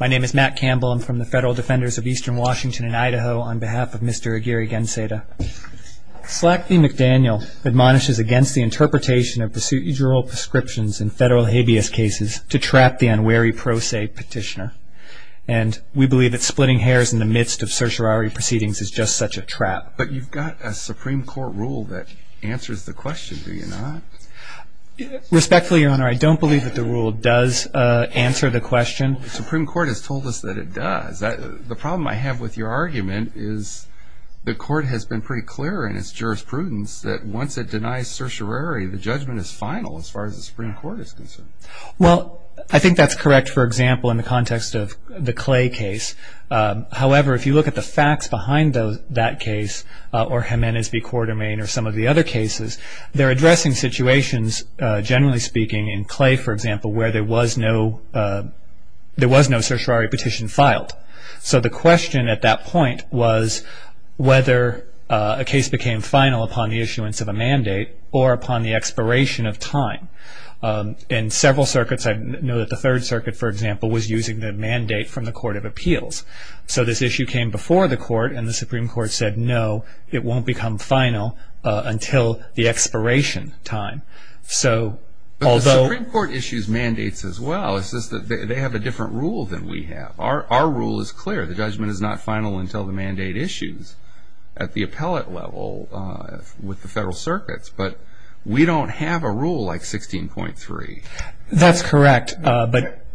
My name is Matt Campbell. I'm from the Federal Defenders of Eastern Washington and Idaho on behalf of Mr. Aguirre-Ganceda. Slack v. McDaniel admonishes against the interpretation of procedural prescriptions in federal habeas cases to trap the unwary pro se petitioner. And we believe that splitting hairs in the midst of certiorari proceedings is just such a trap. But you've got a Supreme Court rule that answers the question, do you not? Respectfully, Your Honor, I don't believe that the rule does answer the question. The Supreme Court has told us that it does. The problem I have with your argument is the court has been pretty clear in its jurisprudence that once it denies certiorari, the judgment is final as far as the Supreme Court is concerned. Well, I think that's correct, for example, in the context of the Clay case. However, if you look at the facts behind that case or Jimenez v. Quartermaine or some of the other cases, they're addressing situations, generally speaking, in Clay, for example, where there was no certiorari petition filed. So the question at that point was whether a case became final upon the issuance of a mandate or upon the expiration of time. In several circuits, I know that the Third Circuit, for example, was using the mandate from the Court of Appeals. So this issue came before the court, and the Supreme Court said, no, it won't become final until the expiration time. But the Supreme Court issues mandates as well. It's just that they have a different rule than we have. Our rule is clear. The judgment is not final until the mandate issues at the appellate level with the federal circuits. But we don't have a rule like 16.3. That's correct.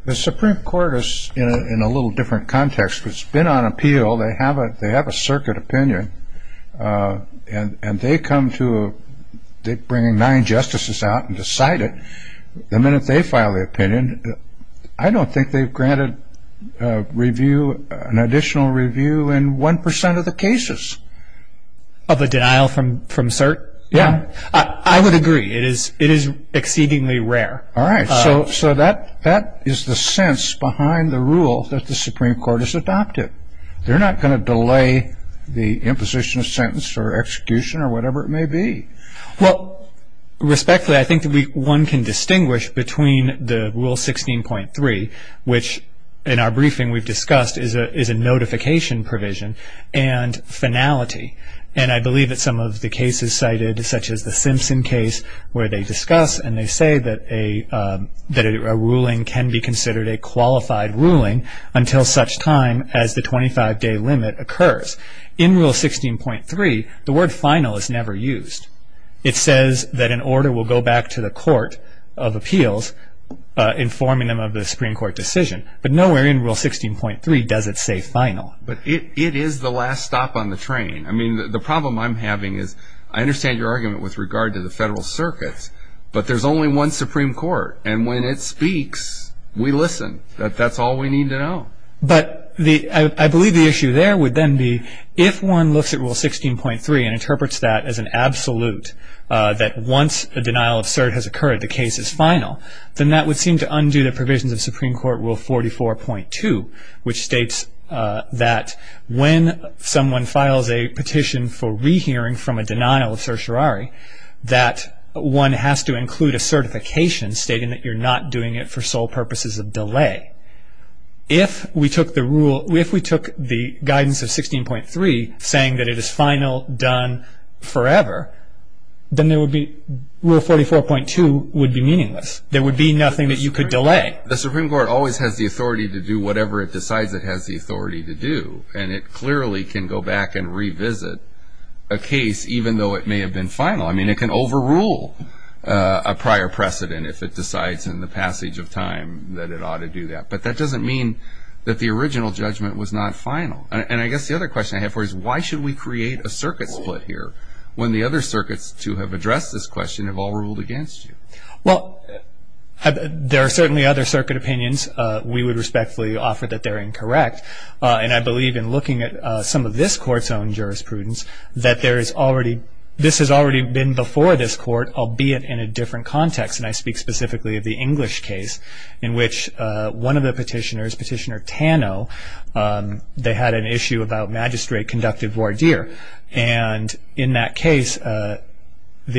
The Supreme Court is in a little different context. It's been on appeal. They have a circuit opinion, and they come to bringing nine justices out and decide it. The minute they file the opinion, I don't think they've granted an additional review in 1 percent of the cases. Of the denial from cert? Yeah. I would agree. It is exceedingly rare. All right. So that is the sense behind the rule that the Supreme Court has adopted. They're not going to delay the imposition of sentence or execution or whatever it may be. Well, respectfully, I think that one can distinguish between the rule 16.3, which in our briefing we've discussed is a notification provision, and finality. And I believe that some of the cases cited, such as the Simpson case, where they discuss and they say that a ruling can be considered a qualified ruling until such time as the 25-day limit occurs. In Rule 16.3, the word final is never used. It says that an order will go back to the court of appeals informing them of the Supreme Court decision. But nowhere in Rule 16.3 does it say final. But it is the last stop on the train. I mean, the problem I'm having is I understand your argument with regard to the federal circuits, but there's only one Supreme Court, and when it speaks, we listen. That's all we need to know. But I believe the issue there would then be if one looks at Rule 16.3 and interprets that as an absolute, that once a denial of cert has occurred, the case is final, then that would seem to undo the provisions of Supreme Court Rule 44.2, which states that when someone files a petition for rehearing from a denial of certiorari, that one has to include a certification stating that you're not doing it for sole purposes of delay. If we took the rule, if we took the guidance of 16.3 saying that it is final, done forever, then there would be, Rule 44.2 would be meaningless. There would be nothing that you could delay. The Supreme Court always has the authority to do whatever it decides it has the authority to do. And it clearly can go back and revisit a case even though it may have been final. I mean, it can overrule a prior precedent if it decides in the passage of time that it ought to do that. But that doesn't mean that the original judgment was not final. And I guess the other question I have for you is why should we create a circuit split here when the other circuits to have addressed this question have all ruled against you? Well, there are certainly other circuit opinions we would respectfully offer that they're incorrect. And I believe in looking at some of this court's own jurisprudence that this has already been before this court, albeit in a different context. And I speak specifically of the English case in which one of the petitioners, Petitioner Tano, they had an issue about magistrate-conducted voir dire. And in that case, the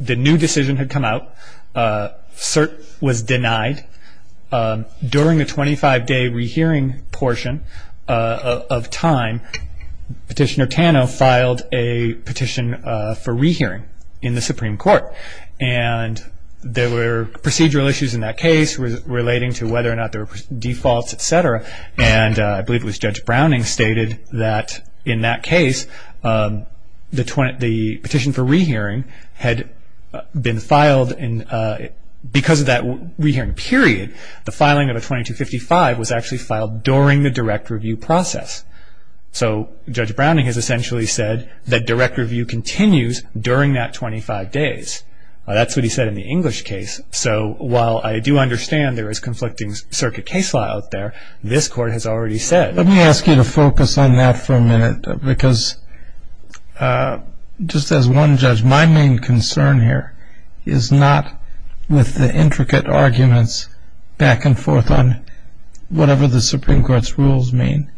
new decision had come out. Cert was denied. During the 25-day rehearing portion of time, Petitioner Tano filed a petition for rehearing in the Supreme Court. And there were procedural issues in that case relating to whether or not there were defaults, et cetera. And I believe it was Judge Browning stated that in that case, the petition for rehearing had been filed. And because of that rehearing period, the filing of a 2255 was actually filed during the direct review process. So Judge Browning has essentially said that direct review continues during that 25 days. That's what he said in the English case. So while I do understand there is conflicting circuit case law out there, this court has already said. Let me ask you to focus on that for a minute because just as one judge, my main concern here is not with the intricate arguments back and forth on whatever the Supreme Court's rules mean.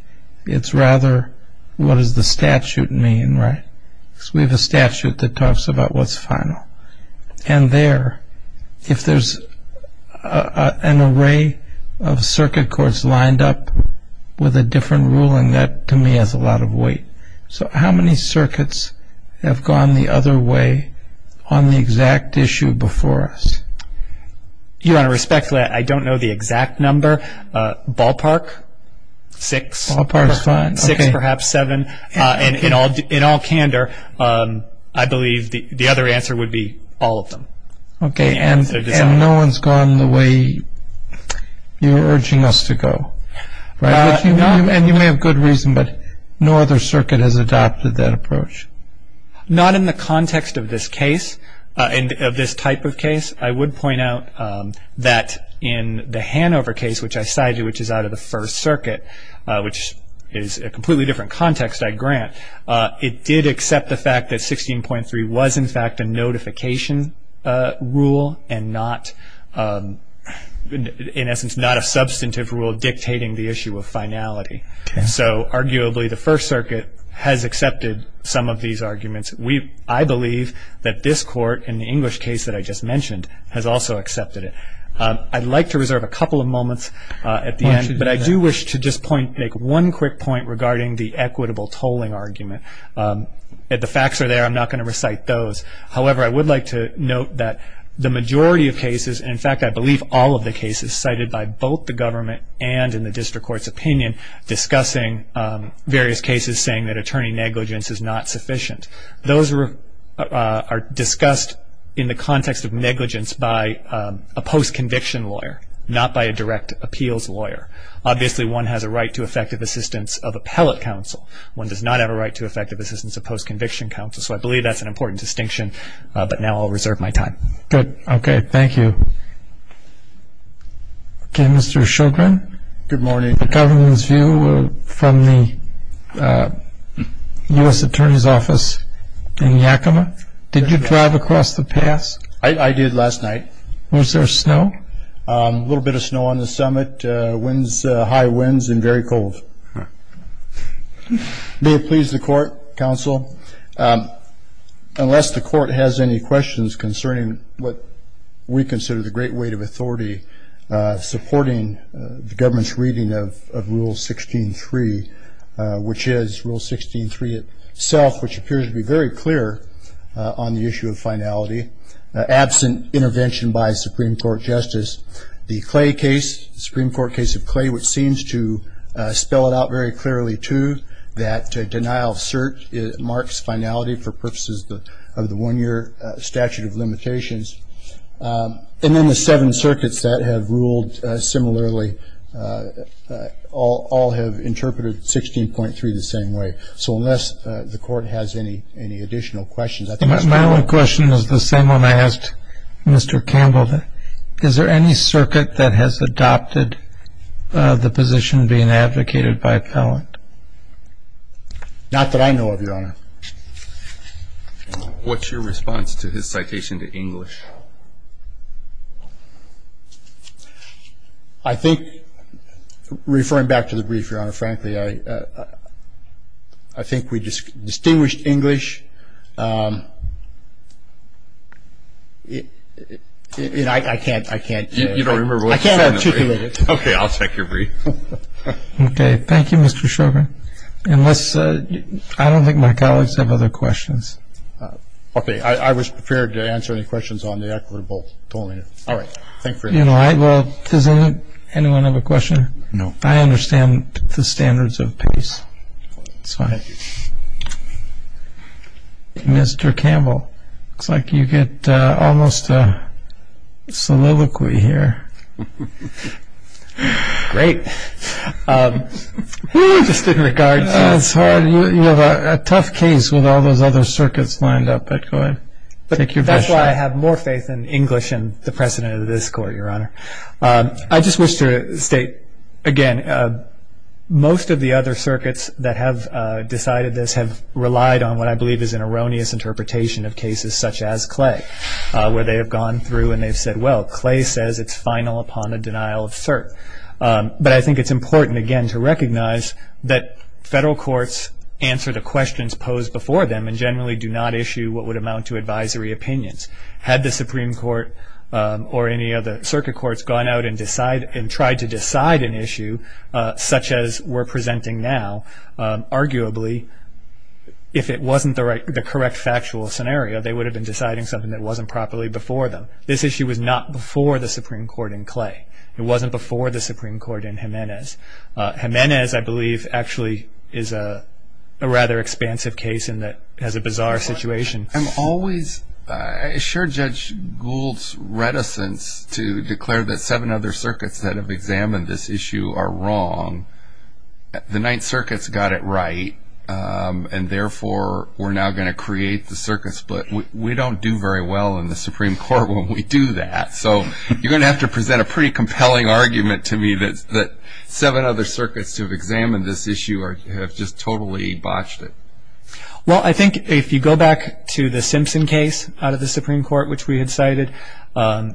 It's rather what does the statute mean, right? Because we have a statute that talks about what's final. And there, if there's an array of circuit courts lined up with a different ruling, that to me has a lot of weight. So how many circuits have gone the other way on the exact issue before us? Your Honor, respectfully, I don't know the exact number. Ballpark, six. Ballpark is fine. Six, perhaps seven. In all candor, I believe the other answer would be all of them. Okay. And no one's gone the way you're urging us to go, right? And you may have good reason, but no other circuit has adopted that approach. Not in the context of this case, of this type of case. I would point out that in the Hanover case, which I cited, which is out of the First Circuit, which is a completely different context, I grant, it did accept the fact that 16.3 was, in fact, a notification rule and not, in essence, not a substantive rule dictating the issue of finality. Okay. So arguably, the First Circuit has accepted some of these arguments. I believe that this Court, in the English case that I just mentioned, has also accepted it. I'd like to reserve a couple of moments at the end. Why don't you do that? But I do wish to just make one quick point regarding the equitable tolling argument. The facts are there. I'm not going to recite those. However, I would like to note that the majority of cases, and in fact I believe all of the cases cited by both the government and in the district court's opinion discussing various cases saying that attorney negligence is not sufficient, those are discussed in the context of negligence by a post-conviction lawyer, not by a direct appeals lawyer. Obviously, one has a right to effective assistance of appellate counsel. One does not have a right to effective assistance of post-conviction counsel. So I believe that's an important distinction, but now I'll reserve my time. Good. Okay. Thank you. Okay, Mr. Shogren. Good morning. The government's view from the U.S. Attorney's Office in Yakima. Did you drive across the pass? I did last night. Was there snow? A little bit of snow on the summit, high winds and very cold. May it please the court, counsel, unless the court has any questions concerning what we consider the great weight of authority supporting the government's reading of Rule 16.3, which is Rule 16.3 itself, which appears to be very clear on the issue of finality, absent intervention by a Supreme Court justice. The Clay case, the Supreme Court case of Clay, which seems to spell it out very clearly, too, that denial of cert marks finality for purposes of the one-year statute of limitations. And then the seven circuits that have ruled similarly all have interpreted 16.3 the same way. So unless the court has any additional questions. My only question is the same one I asked Mr. Campbell. Is there any circuit that has adopted the position being advocated by Pellant? Not that I know of, Your Honor. What's your response to his citation to English? I think, referring back to the brief, Your Honor, frankly, I think we distinguished English. I can't articulate it. Okay. I'll take your brief. Okay. Thank you, Mr. Schroeder. I don't think my colleagues have other questions. Okay. I was prepared to answer any questions on the equitable domain. All right. Thank you. Does anyone have a question? No. I understand the standards of PACE. That's fine. Mr. Campbell, it looks like you get almost a soliloquy here. Great. Just in regards to this part. It's hard. You have a tough case with all those other circuits lined up. But go ahead. Take your question. That's why I have more faith in English and the precedent of this court, Your Honor. I just wish to state, again, most of the other circuits that have decided this have relied on what I believe is an erroneous interpretation of cases such as Clay, where they have gone through and they've said, well, Clay says it's final upon a denial of cert. But I think it's important, again, to recognize that federal courts answer the questions posed before them and generally do not issue what would amount to advisory opinions. Had the Supreme Court or any of the circuit courts gone out and tried to decide an issue such as we're presenting now, arguably, if it wasn't the correct factual scenario, they would have been deciding something that wasn't properly before them. This issue was not before the Supreme Court in Clay. It wasn't before the Supreme Court in Jimenez. Jimenez, I believe, actually is a rather expansive case and has a bizarre situation. I'm always assured Judge Gould's reticence to declare that seven other circuits that have examined this issue are wrong. The Ninth Circuit's got it right and, therefore, we're now going to create the circuit split. We don't do very well in the Supreme Court when we do that. So you're going to have to present a pretty compelling argument to me that seven other circuits to examine this issue have just totally botched it. Well, I think if you go back to the Simpson case out of the Supreme Court, which we had cited, and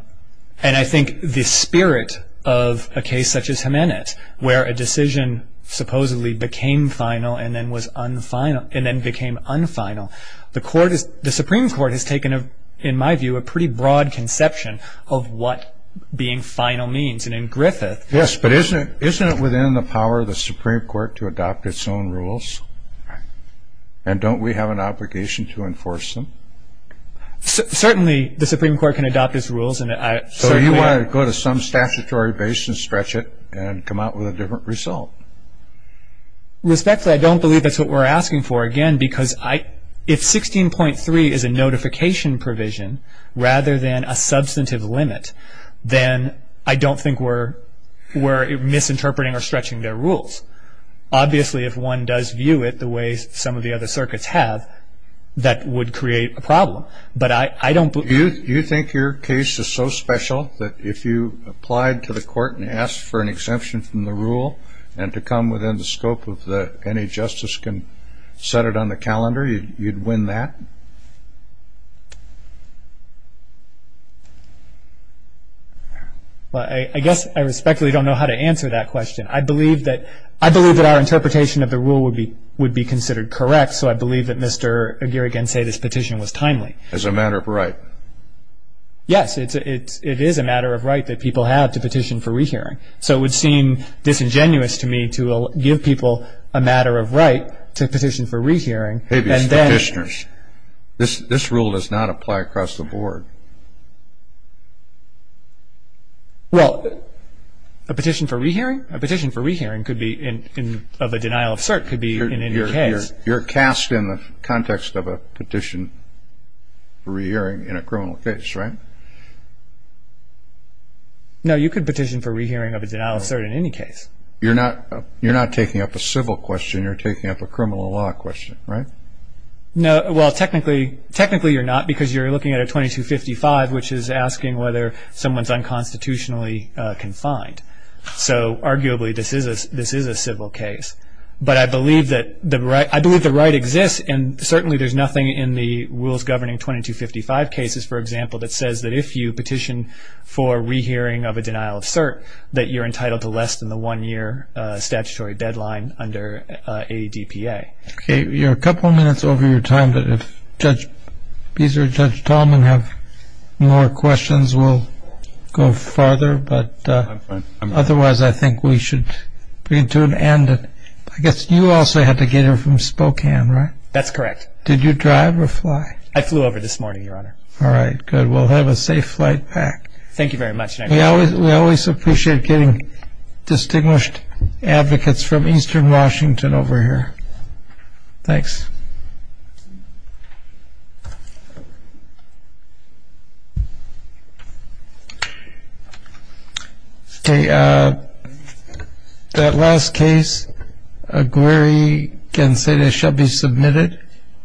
I think the spirit of a case such as Jimenez, where a decision supposedly became final and then became unfinal, the Supreme Court has taken, in my view, a pretty broad conception of what being final means. Yes, but isn't it within the power of the Supreme Court to adopt its own rules? And don't we have an obligation to enforce them? Certainly the Supreme Court can adopt its rules. So you want to go to some statutory base and stretch it and come out with a different result? Respectfully, I don't believe that's what we're asking for, again, because if 16.3 is a notification provision rather than a substantive limit, then I don't think we're misinterpreting or stretching their rules. Obviously, if one does view it the way some of the other circuits have, that would create a problem. You think your case is so special that if you applied to the court and asked for an exemption from the rule and to come within the scope of any justice can set it on the calendar, you'd win that? Well, I guess I respectfully don't know how to answer that question. I believe that our interpretation of the rule would be considered correct, so I believe that Mr. Aguirre can say this petition was timely. It's a matter of right. Yes, it is a matter of right that people have to petition for rehearing. So it would seem disingenuous to me to give people a matter of right to petition for rehearing. Maybe it's petitioners. This rule does not apply across the board. Well, a petition for rehearing? A petition for rehearing of a denial of cert could be in any case. You're cast in the context of a petition for rehearing in a criminal case, right? No, you could petition for rehearing of a denial of cert in any case. You're not taking up a civil question. You're taking up a criminal law question, right? Well, technically you're not because you're looking at a 2255, which is asking whether someone is unconstitutionally confined. So arguably this is a civil case. But I believe the right exists, and certainly there's nothing in the rules governing 2255 cases, for example, that says that if you petition for rehearing of a denial of cert, that you're entitled to less than the one-year statutory deadline under ADPA. Okay, you're a couple minutes over your time, but if Judge Beazer and Judge Tallman have more questions, we'll go farther. But otherwise I think we should bring it to an end. I guess you also had to get here from Spokane, right? That's correct. Did you drive or fly? I flew over this morning, Your Honor. All right, good. Well, have a safe flight back. Thank you very much. We always appreciate getting distinguished advocates from eastern Washington over here. Thanks. Okay, that last case, Aguirre-Gonzalez shall be submitted.